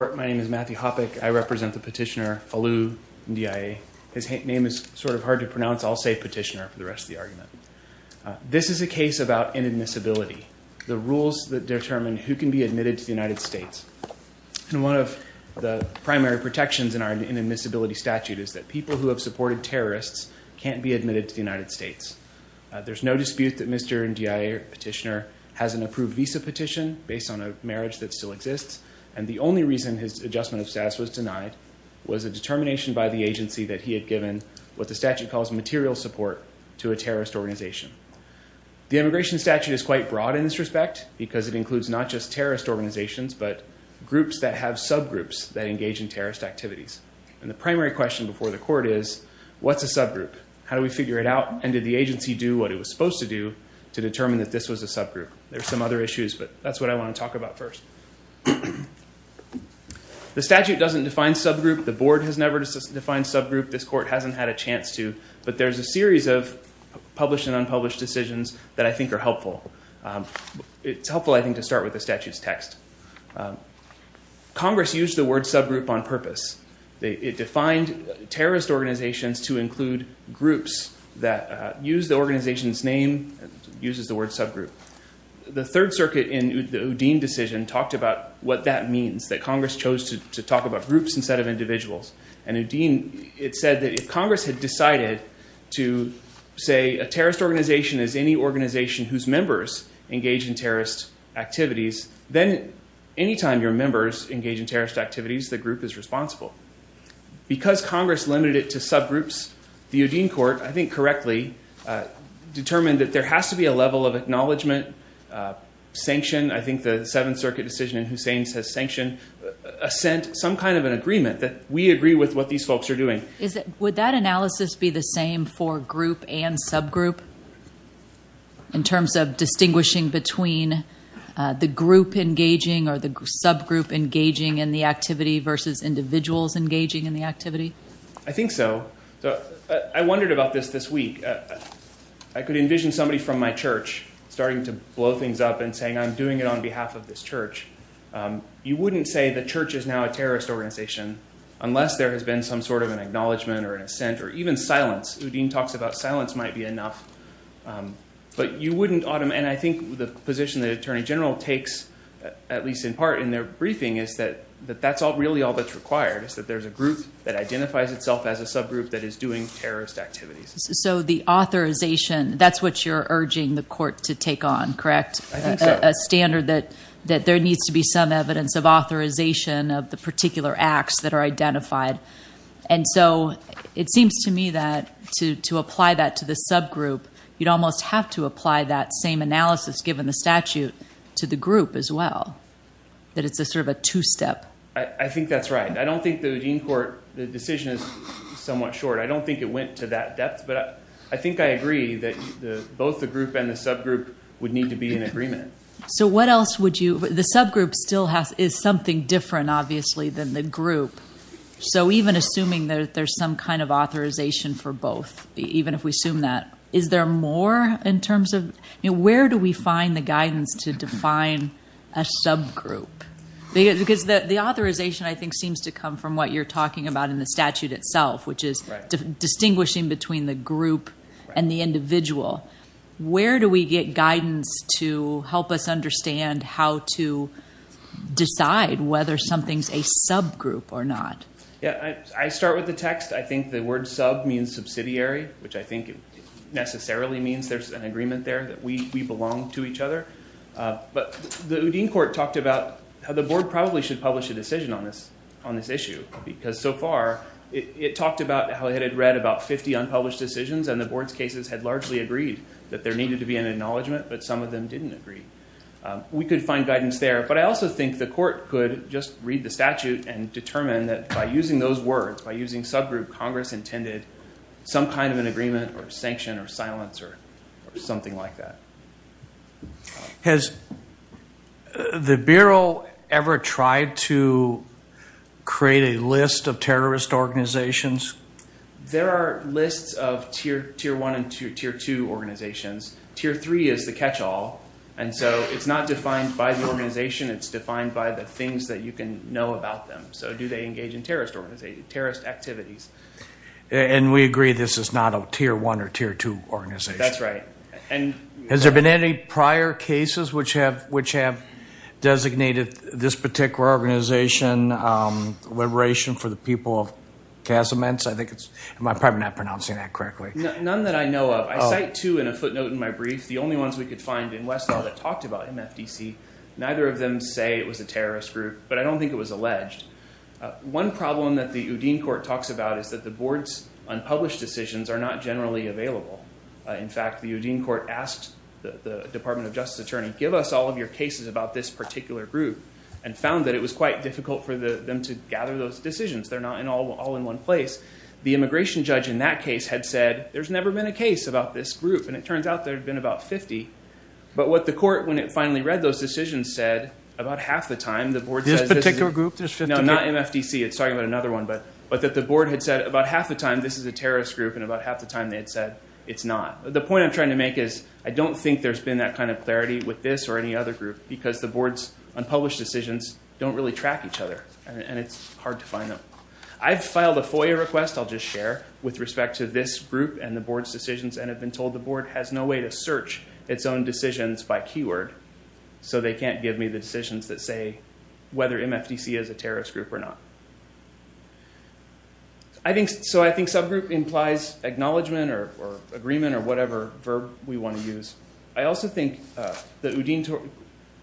My name is Matthew Hoppeck. I represent the petitioner, Alou Ndiaye. His name is sort of hard to pronounce. I'll say petitioner for the rest of the argument. This is a case about inadmissibility, the rules that determine who can be admitted to the United States. And one of the primary protections in our inadmissibility statute is that people who have supported terrorists can't be admitted to the United States. There's no dispute that Mr. Ndiaye petitioner has an approved visa petition based on a marriage that still exists. And the reason his adjustment of status was denied was a determination by the agency that he had given what the statute calls material support to a terrorist organization. The immigration statute is quite broad in this respect because it includes not just terrorist organizations, but groups that have subgroups that engage in terrorist activities. And the primary question before the court is, what's a subgroup? How do we figure it out? And did the agency do what it was supposed to do to determine that this was a subgroup? There's some other issues, but that's what I want to talk about first. The statute doesn't define subgroup. The board has never defined subgroup. This court hasn't had a chance to. But there's a series of published and unpublished decisions that I think are helpful. It's helpful, I think, to start with the statute's text. Congress used the word subgroup on purpose. It defined terrorist organizations to include groups that use the organization's name, uses the word subgroup. The Third Circuit in the Udine decision talked about what that means, that Congress chose to talk about groups instead of individuals. And Udine, it said that if Congress had decided to say a terrorist organization is any organization whose members engage in terrorist activities, then anytime your members engage in terrorist activities, the group is responsible. Because Congress limited it to subgroups, the Udine court, I think correctly, determined that there has to be a level of acknowledgement, sanction. I think the Seventh Circuit decision in Hussain's has sanctioned assent, some kind of an agreement that we agree with what these folks are doing. Would that analysis be the same for group and subgroup in terms of distinguishing between the group engaging or the subgroup engaging in the activity versus individuals engaging in the activity? I wondered about this this week. I could envision somebody from my church starting to blow things up and saying, I'm doing it on behalf of this church. You wouldn't say the church is now a terrorist organization unless there has been some sort of an acknowledgement or an assent or even silence. Udine talks about silence might be enough. But you wouldn't, and I think the position that Attorney General takes, at least in part in their briefing, is that that's really all that's required, is that there's a group that identifies itself as a subgroup that is doing terrorist activities. So the authorization, that's what you're urging the court to take on, correct? I think so. A standard that there needs to be some evidence of authorization of the particular acts that are identified. And so it seems to me that to apply that to the subgroup, you'd almost have to apply that same analysis given the statute to the group as well, that it's a sort of a two-step. I think that's right. I don't think Udine court, the decision is somewhat short. I don't think it went to that depth, but I think I agree that both the group and the subgroup would need to be in agreement. So what else would you, the subgroup still has, is something different, obviously, than the group. So even assuming that there's some kind of authorization for both, even if we assume that, is there more in terms of, where do we find the guidance to define a subgroup? Because the authorization, I think, seems to come from what you're talking about in the statute itself, which is distinguishing between the group and the individual. Where do we get guidance to help us understand how to decide whether something's a subgroup or not? Yeah, I start with the text. I think the word sub means subsidiary, which I think necessarily means there's an agreement there that we belong to each other. But the Udine court talked about how the board probably should publish a decision on this issue, because so far it talked about how it had read about 50 unpublished decisions, and the board's cases had largely agreed that there needed to be an acknowledgment, but some of them didn't agree. We could find guidance there, but I also think the court could just read the statute and determine that by using those words, by using subgroup, Congress intended some kind of an agreement or sanction or silence or something like that. Has the bureau ever tried to create a list of terrorist organizations? There are lists of tier one and tier two organizations. Tier three is the catch-all, and so it's not defined by the organization, it's defined by the things that you can know about them. So do they engage in terrorist activities? And we agree this is not a tier one or tier two organization. That's right. And has there been any prior cases which have designated this particular organization liberation for the people of Casamance? I think it's, am I probably not pronouncing that correctly? None that I know of. I cite two in a footnote in my brief, the only ones we could find in Westall that talked about MFDC. Neither of them say it was a terrorist group, but I don't think it was alleged. One problem that the Udine court talks about is that the board's unpublished decisions are not generally available. In fact, the Udine court asked the Department of Justice Attorney, give us all of your cases about this particular group, and found that it was quite difficult for them to gather those decisions. They're not all in one place. The immigration judge in that case had said, there's never been a case about this group, and it turns out there have been about 50. But what the court, when it finally read those decisions, said about half the time, the board says, this particular group, there's 50. No, not MFDC, it's talking about another one, but that the board had said about half the time this is a terrorist group, and about half the time they had said it's not. The point I'm trying to make is, I don't think there's been that kind of clarity with this or any other group, because the board's unpublished decisions don't really track each other, and it's hard to find them. I've filed a FOIA request, I'll just share, with respect to this group and the board's decisions, and have been told the board has no way to search its own decisions by keyword, so they can't give me the decisions that say whether MFDC is a terrorist group or not. So I think subgroup implies acknowledgement or agreement or whatever verb we want to use. I also think that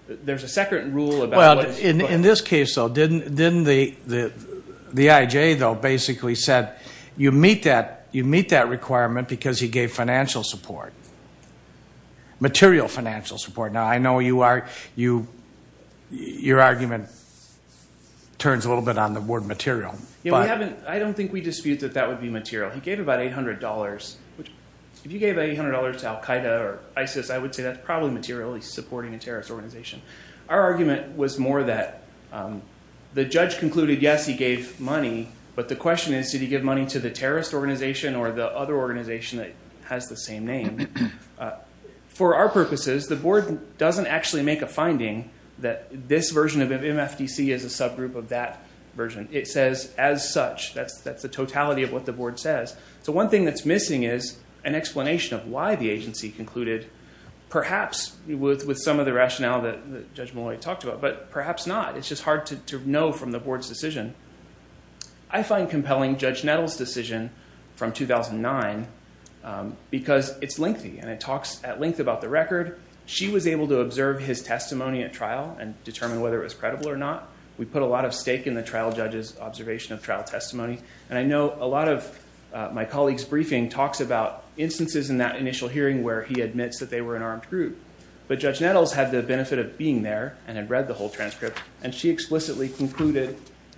there's a second rule about... Well, in this case, though, didn't the IJ, though, basically said, you meet that requirement because he gave financial support, material financial support. Now, I know your argument turns a little bit on the word material, but... I don't think we dispute that that would be material. He gave about $800. If you gave $800 to Al Qaeda or ISIS, I would say that's probably material. He's supporting a terrorist organization. Our argument was more that the judge concluded, yes, he gave money, but the question is, did he give money to the terrorist organization or the other organization that has the same name? For our purposes, the board doesn't actually make a finding that this says as such. That's the totality of what the board says. So one thing that's missing is an explanation of why the agency concluded, perhaps with some of the rationale that Judge Malloy talked about, but perhaps not. It's just hard to know from the board's decision. I find compelling Judge Nettles' decision from 2009 because it's lengthy, and it talks at length about the record. She was able to observe his testimony at trial and determine whether it was credible or not. We put a lot of stake in the trial judge's observation of trial testimony, and I know a lot of my colleague's briefing talks about instances in that initial hearing where he admits that they were an armed group, but Judge Nettles had the benefit of being there and had read the whole transcript, and she explicitly concluded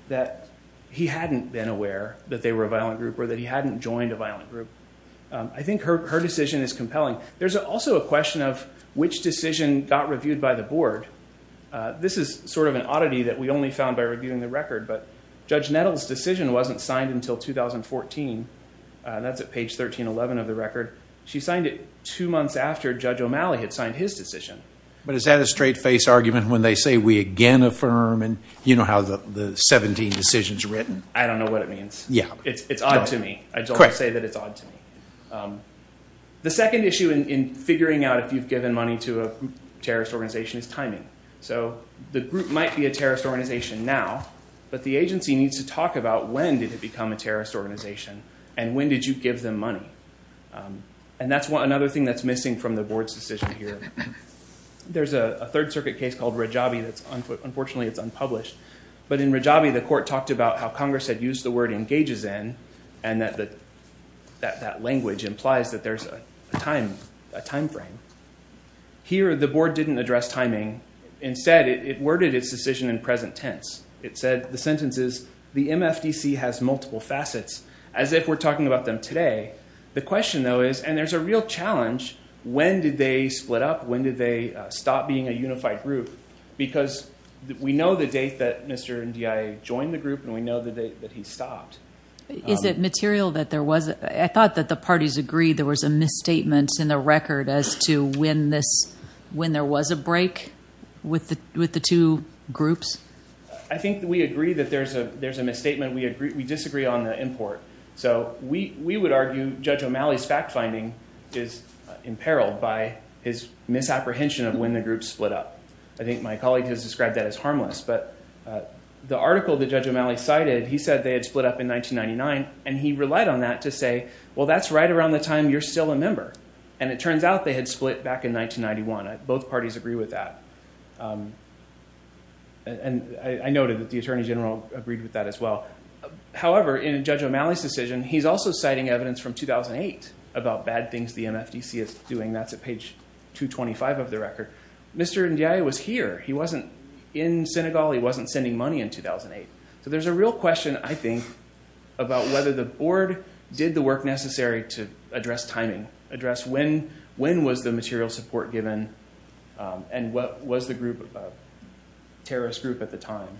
that he hadn't been aware that they were a violent group or that he hadn't joined a violent group. I think her decision is compelling. There's also a question of which decision got reviewed by the board. This is sort of an oddity that we only found by reviewing the record, but Judge Nettles' decision wasn't signed until 2014. That's at page 1311 of the record. She signed it two months after Judge O'Malley had signed his decision. But is that a straight-faced argument when they say, we again affirm, and you know how the 17 decisions are written? I don't know what it means. Yeah. It's odd to me. I just want to say that it's odd to me. The second issue in figuring out if you've given money to a terrorist organization is timing. So the group might be a terrorist organization now, but the agency needs to talk about when did it become a terrorist organization, and when did you give them money? And that's another thing that's missing from the board's decision here. There's a Third Circuit case called Rajabi that's, unfortunately, it's unpublished, but in Rajabi, the court talked about how Congress had used the word engages in, and that language implies that there's a time frame. Here, the board didn't address timing. Instead, it worded its decision in present tense. It said, the sentence is, the MFDC has multiple facets, as if we're talking about them today. The question, though, is, and there's a real challenge, when did they split up? When did they stop being a unified group? Because we know the date that Mr. Ndiaye joined the group, and we know the date that he stopped. Is it material that there was, I thought that the parties agreed there was a misstatement in the record as to when there was a break with the two groups? I think we agree that there's a misstatement. We disagree on the import. So we would argue Judge O'Malley's fact-finding is imperiled by his misapprehension of when the groups split up. I think my colleague has described that as harmless, but the article that Judge O'Malley cited, he said they had split up in 1999, and he relied on that to say, well, that's right around the time you're still a member. And it turns out they had split back in 1991. Both parties agree with that. And I noted that the Attorney General agreed with that as well. However, in Judge O'Malley's decision, he's also citing evidence from 2008 about bad things the MFDC is doing. That's at page 225 of the record. Mr. Ndiaye was here. He wasn't in Senegal. He wasn't sending money in 2008. So there's a real question, I think, about whether the board did the work necessary to address timing, address when was the material support given, and what was the terrorist group at the time.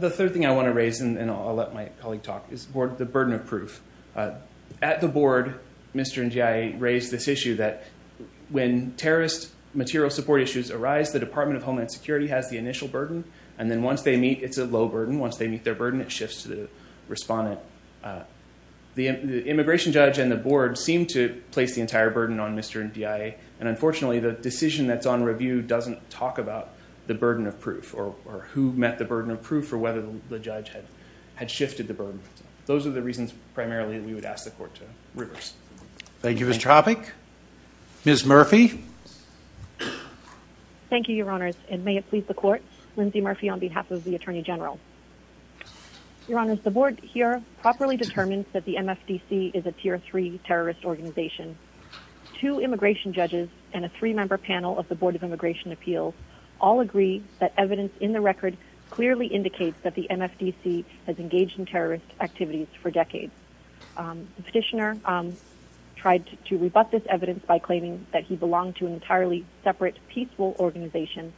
The third thing I want to raise, and I'll let my colleague talk, is the burden of proof. At the board, Mr. Ndiaye raised this issue that when terrorist material support issues arise, the Department of Homeland Security has the initial burden, and then once they meet, it's a low burden. Once they meet their burden, it shifts to the respondent. The immigration judge and the board seem to place the entire burden on Mr. Ndiaye. And unfortunately, the decision that's on review doesn't talk about the burden of proof or who met the burden of proof or whether the judge had shifted the burden. Those are the reasons, primarily, that we would ask the court to reverse. Thank you, Mr. Hoppe. Ms. Murphy. Thank you, Your Honors. And may it please the court, Lindsay Murphy on behalf of the Attorney General. Your Honors, the board here properly determined that the MFDC is a tier three terrorist organization. Two immigration judges and a three-member panel of the Board of Immigration Appeals all agree that evidence in the record clearly indicates that the MFDC has engaged in terrorist activities for decades. The petitioner tried to rebut this evidence by claiming that he belonged to an entirely separate, peaceful organization,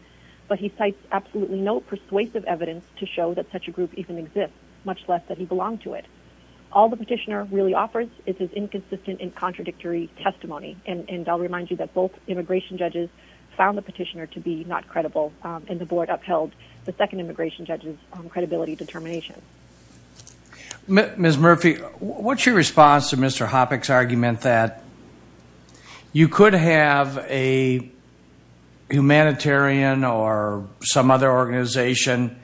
but he cites absolutely no persuasive evidence to show that such a group even exists, much less that he belonged to it. All the petitioner really offers is his inconsistent and contradictory testimony. And to be not credible, and the board upheld the second immigration judge's credibility determination. Ms. Murphy, what's your response to Mr. Hoppe's argument that you could have a humanitarian or some other organization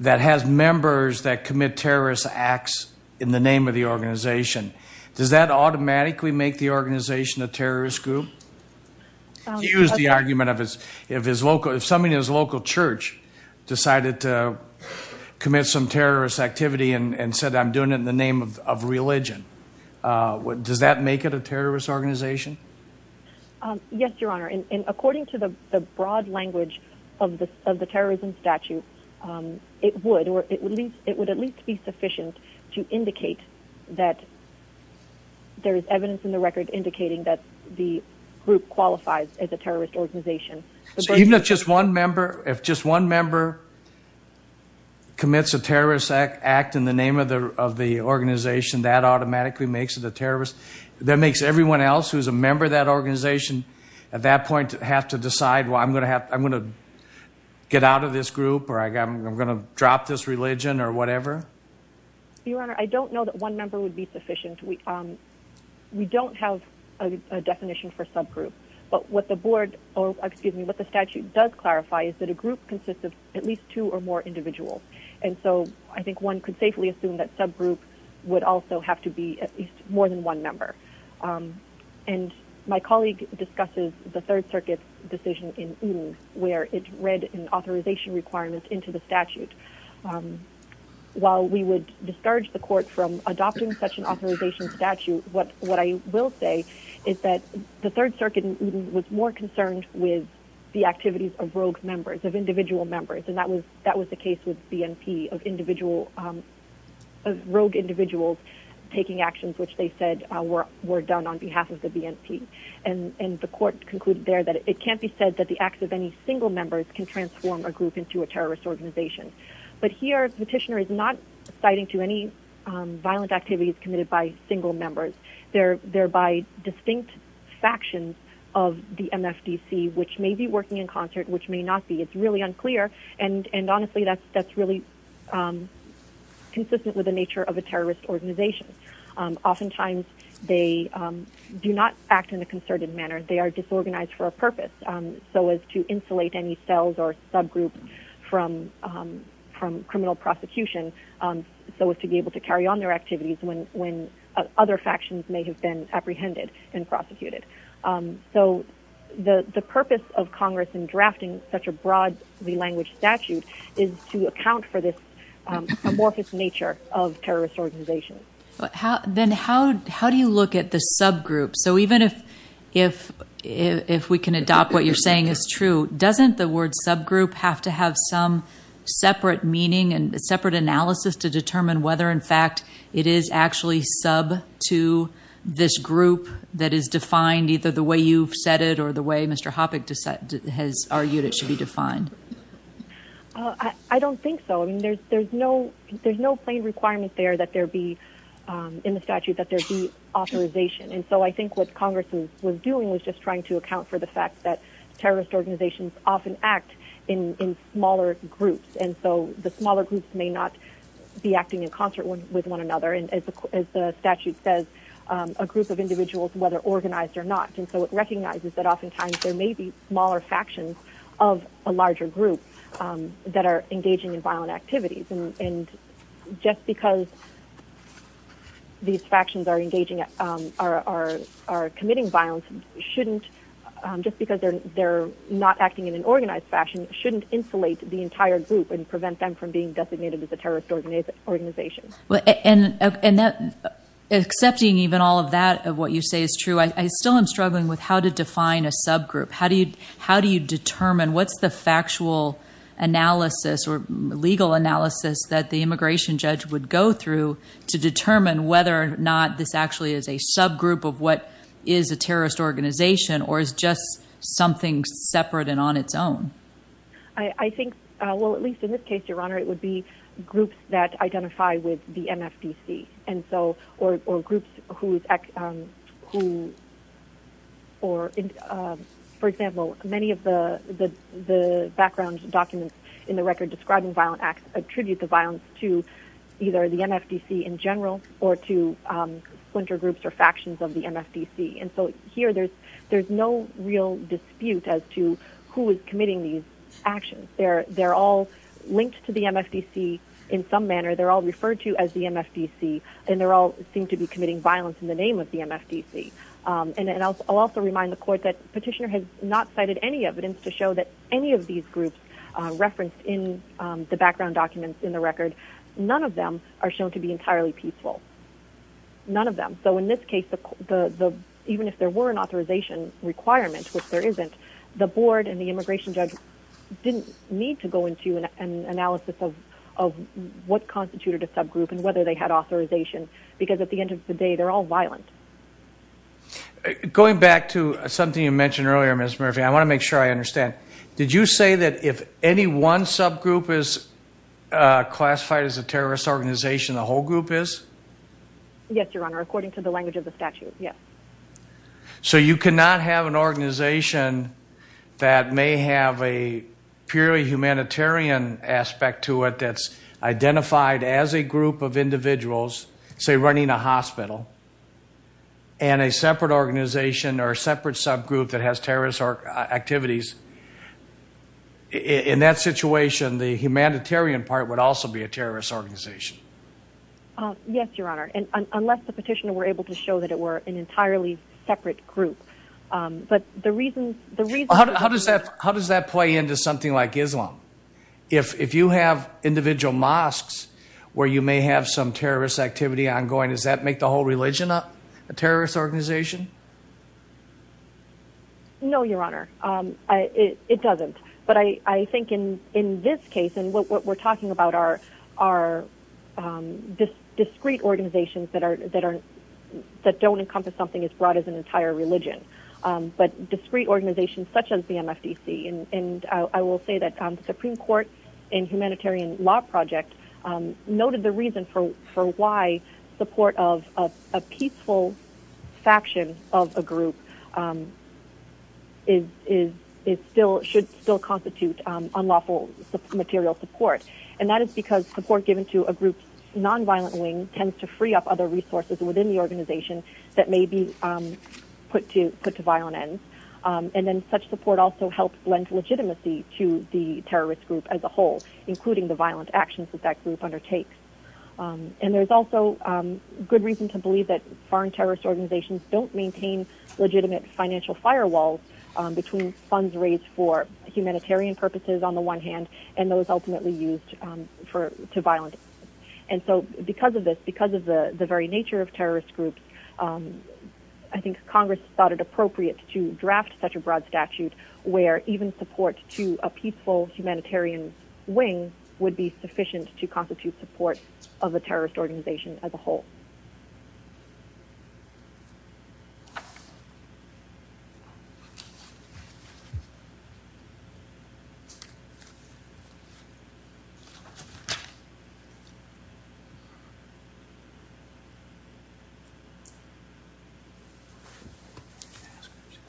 that has members that commit terrorist acts in the name of the organization? Does that automatically make the organization a terrorist group? Here's the argument of his, if his local, if somebody in his local church decided to commit some terrorist activity and said, I'm doing it in the name of religion. Does that make it a terrorist organization? Yes, Your Honor. And according to the broad language of the terrorism statute, it would, or it would at least be sufficient to indicate that there is evidence in the record indicating that the group qualifies as a terrorist organization. So even if just one member, if just one member commits a terrorist act in the name of the organization, that automatically makes it a terrorist? That makes everyone else who's a member of that organization at that point have to decide, well, I'm going to have, I'm going to get out of this group, or I'm going to drop this religion or whatever? Your Honor, I don't know that one member would be sufficient. We, we don't have a definition for subgroup, but what the board, or excuse me, what the statute does clarify is that a group consists of at least two or more individuals. And so I think one could safely assume that subgroup would also have to be at least more than one member. And my colleague discusses the Third Circuit. And while we would discourage the court from adopting such an authorization statute, what, what I will say is that the Third Circuit was more concerned with the activities of rogue members, of individual members. And that was, that was the case with BNP of individual, of rogue individuals taking actions, which they said were done on behalf of the BNP. And, and the court concluded there that it can't be said that the acts of any single members can not be committed. And here, Petitioner is not citing to any violent activities committed by single members. They're, they're by distinct factions of the MFDC, which may be working in concert, which may not be. It's really unclear. And, and honestly, that's, that's really consistent with the nature of a terrorist organization. Oftentimes they do not act in a concerted manner. They are disorganized for a purpose, so as to insulate any cells or subgroups from criminal prosecution, so as to be able to carry on their activities when, when other factions may have been apprehended and prosecuted. So the, the purpose of Congress in drafting such a broad re-language statute is to account for this amorphous nature of terrorist organizations. Then how, how do you look at the subgroup? So even if, if, if we can adopt what you're saying is true, doesn't the word subgroup have to have some separate meaning and separate analysis to determine whether in fact it is actually sub to this group that is defined either the way you've said it or the way Mr. Hoppe has argued it should be defined? I don't think so. I mean, there's, there's no, there's no plain requirement there that there be in the statute that there be authorization. And so I think what Congress was doing was just trying to account for the fact that terrorist organizations often act in, in smaller groups. And so the smaller groups may not be acting in concert with one another. And as the statute says, a group of individuals, whether organized or not. And so it recognizes that oftentimes there may be smaller factions of a larger group that are engaging in violent activities. And just because these factions are engaging, are, are, are committing violence, shouldn't, just because they're, they're not acting in an organized fashion, shouldn't insulate the entire group and prevent them from being designated as a terrorist organization. Well, and, and that, accepting even all of that, of what you say is true, I still am struggling with how to define a subgroup. How do you, how do you determine what's the factual analysis or legal analysis that the immigration judge would go through to determine whether or not this actually is a subgroup of what is a terrorist organization or is just something separate and on its own? I, I think, well, at least in this case, Your Honor, it would be groups that identify with the MFDC. And so, or, or groups whose, who, or, for example, many of the, the, the background documents in the record describing violent acts attribute the violence to either the MFDC in general or to splinter groups or factions of the MFDC. And so here there's, there's no real dispute as to who is committing these actions. They're, they're all linked to the MFDC in some manner. They're all referred to as the MFDC and they're all seem to be committing violence in the name of the MFDC. And I'll also remind the court that petitioner has not cited any evidence to show that any of these groups referenced in the background documents in the record, none of them are shown to be entirely peaceful. None of them. So in this case, the, the, the, even if there were an authorization requirement, which there isn't, the board and the immigration judge didn't need to go into an analysis of, of what constituted a subgroup and whether they had authorization, because at the end of the day, they're all violent. Going back to something you mentioned earlier, Ms. Murphy, I want to make sure I understand. Did you say that if any one subgroup is classified as a terrorist organization, the whole group is? Yes, your honor. According to the language of the statute. Yes. So you cannot have an organization that may have a purely humanitarian aspect to it that's identified as a group of individuals, say running a hospital and a separate organization or a separate subgroup that has terrorist activities. In that situation, the humanitarian part would also be a terrorist organization. Yes, your honor. And unless the petitioner were able to show that it were an entirely separate group. But the reason, the reason. How does that, how does that play into something like Islam? If, if you have individual mosques where you may have some terrorist activity ongoing, does that make the whole religion a terrorist organization? No, your honor. It doesn't. But I, I think in, in this case, and what we're talking about are, are just discrete organizations that are, that are, that don't encompass something as broad as an entire religion, but discrete organizations such as the MFDC. And I will say that the Supreme Court and humanitarian law project noted the reason for, for why support of a peaceful faction of a group is, is, is still, should still constitute unlawful material support. And that is because support given to a group's nonviolent wing tends to free up other resources within the organization that may be put to, put to violent ends. And then such support also helps lend legitimacy to the terrorist group as a whole, including the violent actions that that group undertakes. And there's also good reason to believe that foreign terrorist organizations don't maintain legitimate financial firewalls between funds raised for humanitarian purposes on the one hand, and those ultimately used for, to violent ends. And so because of this, because of the very nature of terrorist groups, I think Congress thought it appropriate to draft such a broad statute where even support to a peaceful humanitarian wing would be sufficient to constitute support of a terrorist organization as a whole.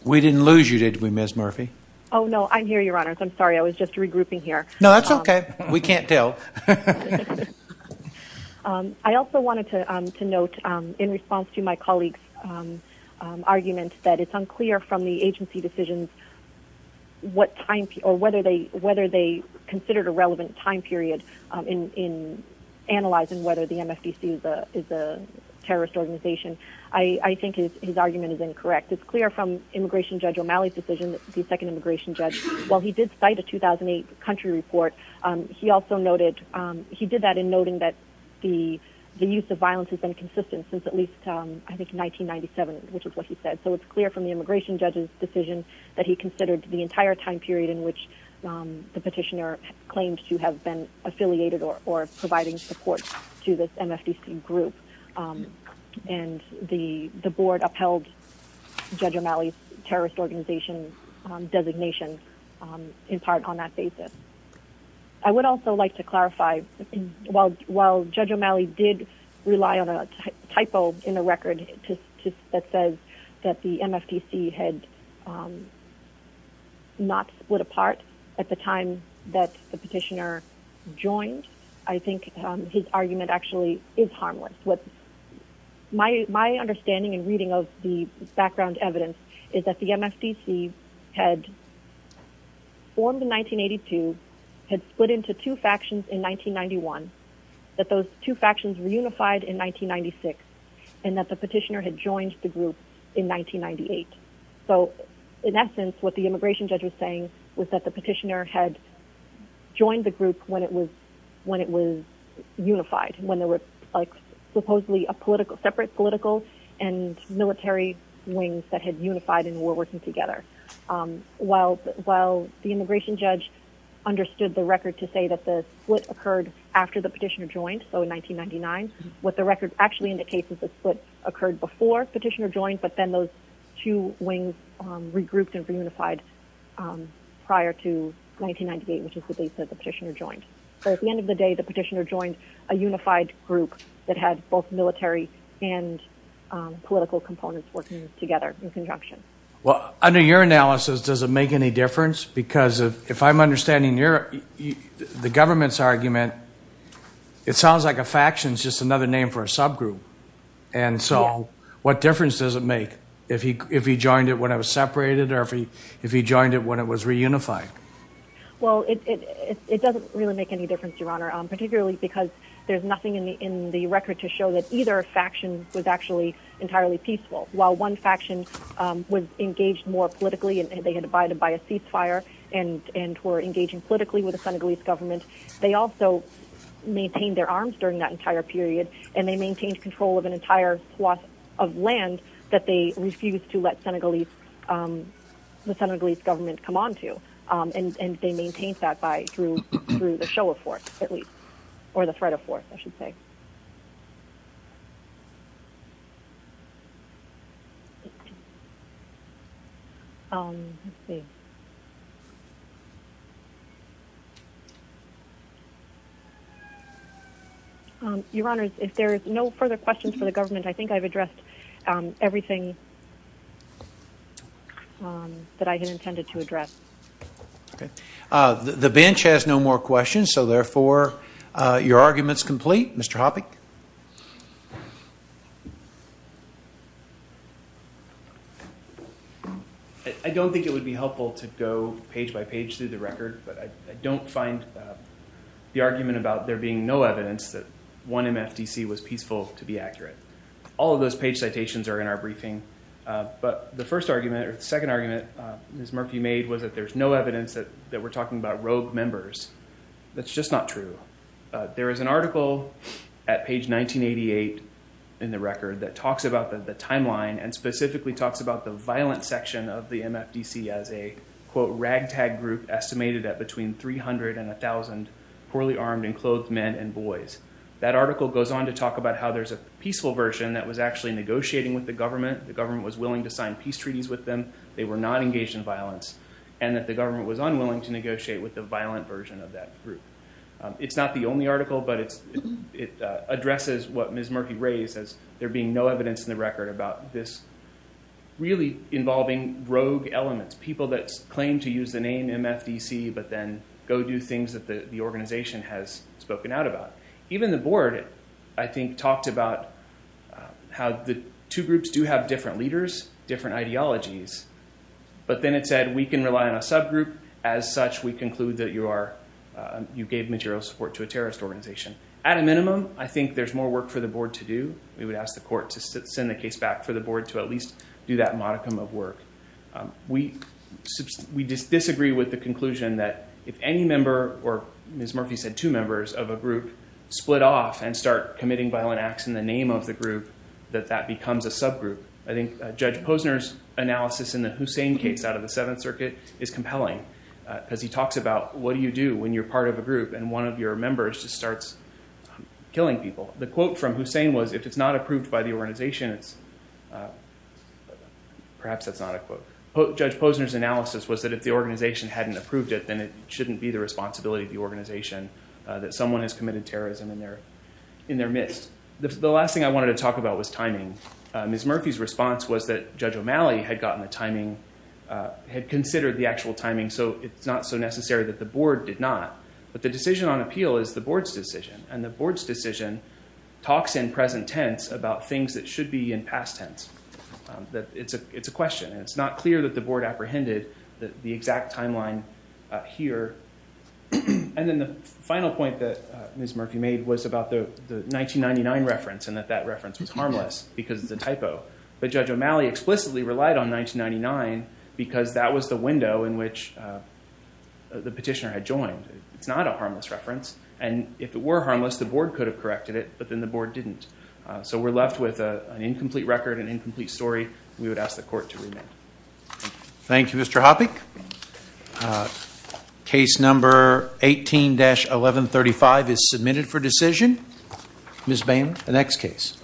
We didn't lose you, did we, Ms. Murphy? Oh, no, I'm here, Your Honors. I'm sorry. I was just regrouping here. No, that's okay. We can't tell. I also wanted to note in response to my colleague's argument that it's unclear from the agency decisions what time – or whether they considered a relevant time period in analyzing whether the MFDC is a terrorist organization. I think his argument is incorrect. It's clear from Immigration Judge O'Malley's decision, the second immigration judge, while he did cite a 2008 country report, he also noted – he did that in noting that the use of violence has been consistent since at least, I think, 1997, which is what he said. So it's clear from the immigration judge's decision that he considered the entire time period in which the petitioner claimed to have been affiliated or providing support to this MFDC group. And the board upheld Judge O'Malley's terrorist organization designation in part on that basis. I would also like to clarify, while Judge O'Malley did rely on a typo in the record that says that the MFDC had not split apart at the time that the petitioner joined, I think his argument actually is harmless. My understanding and reading of the background evidence is that the MFDC had formed in 1982, had split into two factions in 1991, that those two factions were unified in 1996, and that the petitioner had joined the group in 1998. So in essence, what the immigration judge was saying was that the petitioner had joined the group when it was unified, when there were like supposedly a political – separate political and military wings that had unified and were while the immigration judge understood the record to say that the split occurred after the petitioner joined, so in 1999. What the record actually indicates is the split occurred before the petitioner joined, but then those two wings regrouped and reunified prior to 1998, which is the date that the petitioner joined. So at the end of the day, the petitioner joined a unified group that had both military and political components working together in conjunction. Well, under your analysis, does it make any difference? Because if I'm understanding your, the government's argument, it sounds like a faction is just another name for a subgroup. And so what difference does it make if he joined it when it was separated or if he joined it when it was reunified? Well, it doesn't really make any difference, Your Honor, particularly because there's nothing in the record to show that either faction was actually entirely peaceful, while one faction was engaged more politically and they had abided by a ceasefire and were engaging politically with the Senegalese Government. They also maintained their arms during that entire period and they maintained control of an entire swath of land that they refused to let Senegalese – the Senegalese Government come onto, and they maintained that by – through the show of force, at least – or the threat of force, I should say. Let's see. Your Honor, if there are no further questions for the government, I think I've addressed everything that I had intended to address. Okay. The bench has no more questions, so therefore, your argument's complete. Mr. Hoppe? I don't think it would be helpful to go page by page through the record, but I don't find the argument about there being no evidence that one MFDC was peaceful to be accurate. All of those page citations are in our briefing, but the first argument – or the second argument Ms. Murphy made was that there's no evidence that we're talking about rogue members. That's just not true. There is an article at page 1988 in the record that talks about the timeline and specifically talks about the violent section of the MFDC as a, quote, ragtag group estimated at between 300 and 1,000 poorly armed and clothed men and boys. That article goes on to talk about how there's a peaceful version that was actually negotiating with the government, the government was willing to sign peace treaties with them, they were not engaged in violence, and that the government was unwilling to negotiate with the violent version of that group. It's not the only article, but it addresses what Ms. Murphy raised as there being no evidence in the record about this really involving rogue elements, people that claim to use the name MFDC but then go do things that the organization has spoken out about. Even the board, I think, talked about how the two groups do have different leaders, different ideologies, but then it said we can rely on a subgroup. As such, we conclude that you gave material support to a terrorist organization. At a minimum, I think there's more work for the board to do. We would ask the court to send the case back for the board to at least do that modicum of work. We disagree with the conclusion that if any member, or Ms. Murphy said two members, of a group split off and start committing violent acts in the name of the group, that that becomes a subgroup. I think Judge Posner's analysis in the Hussein case out of the Seventh Circuit is compelling because he talks about what do you do when you're part of a group and one of your members just starts killing people. The quote from Hussein was, if it's not approved by the organization, perhaps that's not a quote. Judge Posner's analysis was that if the organization hadn't approved it, then it shouldn't be the responsibility of the organization that someone has committed terrorism in their midst. The last thing I wanted to talk about was timing. Ms. Murphy's response was that Judge O'Malley had gotten the timing, had considered the actual timing, so it's not so necessary that the board did not, but the decision on appeal is the board's decision and the board's decision talks in present tense about things that should be in past tense. It's a question and it's not clear that the board apprehended the exact timeline here. And then the final point that Ms. Murphy made was about the 1999 reference and that that reference was harmless because it's a typo, but Judge O'Malley explicitly relied on 1999 because that was the window in which the petitioner had joined. It's not a harmless reference and if it were harmless, the board could have corrected it, but then the board didn't. So we're left with an incomplete record, an incomplete story. We would ask the court to remand. Thank you, Mr. Hoppe. Case number 18-1135 is submitted for decision. Ms. Boehm, the next case.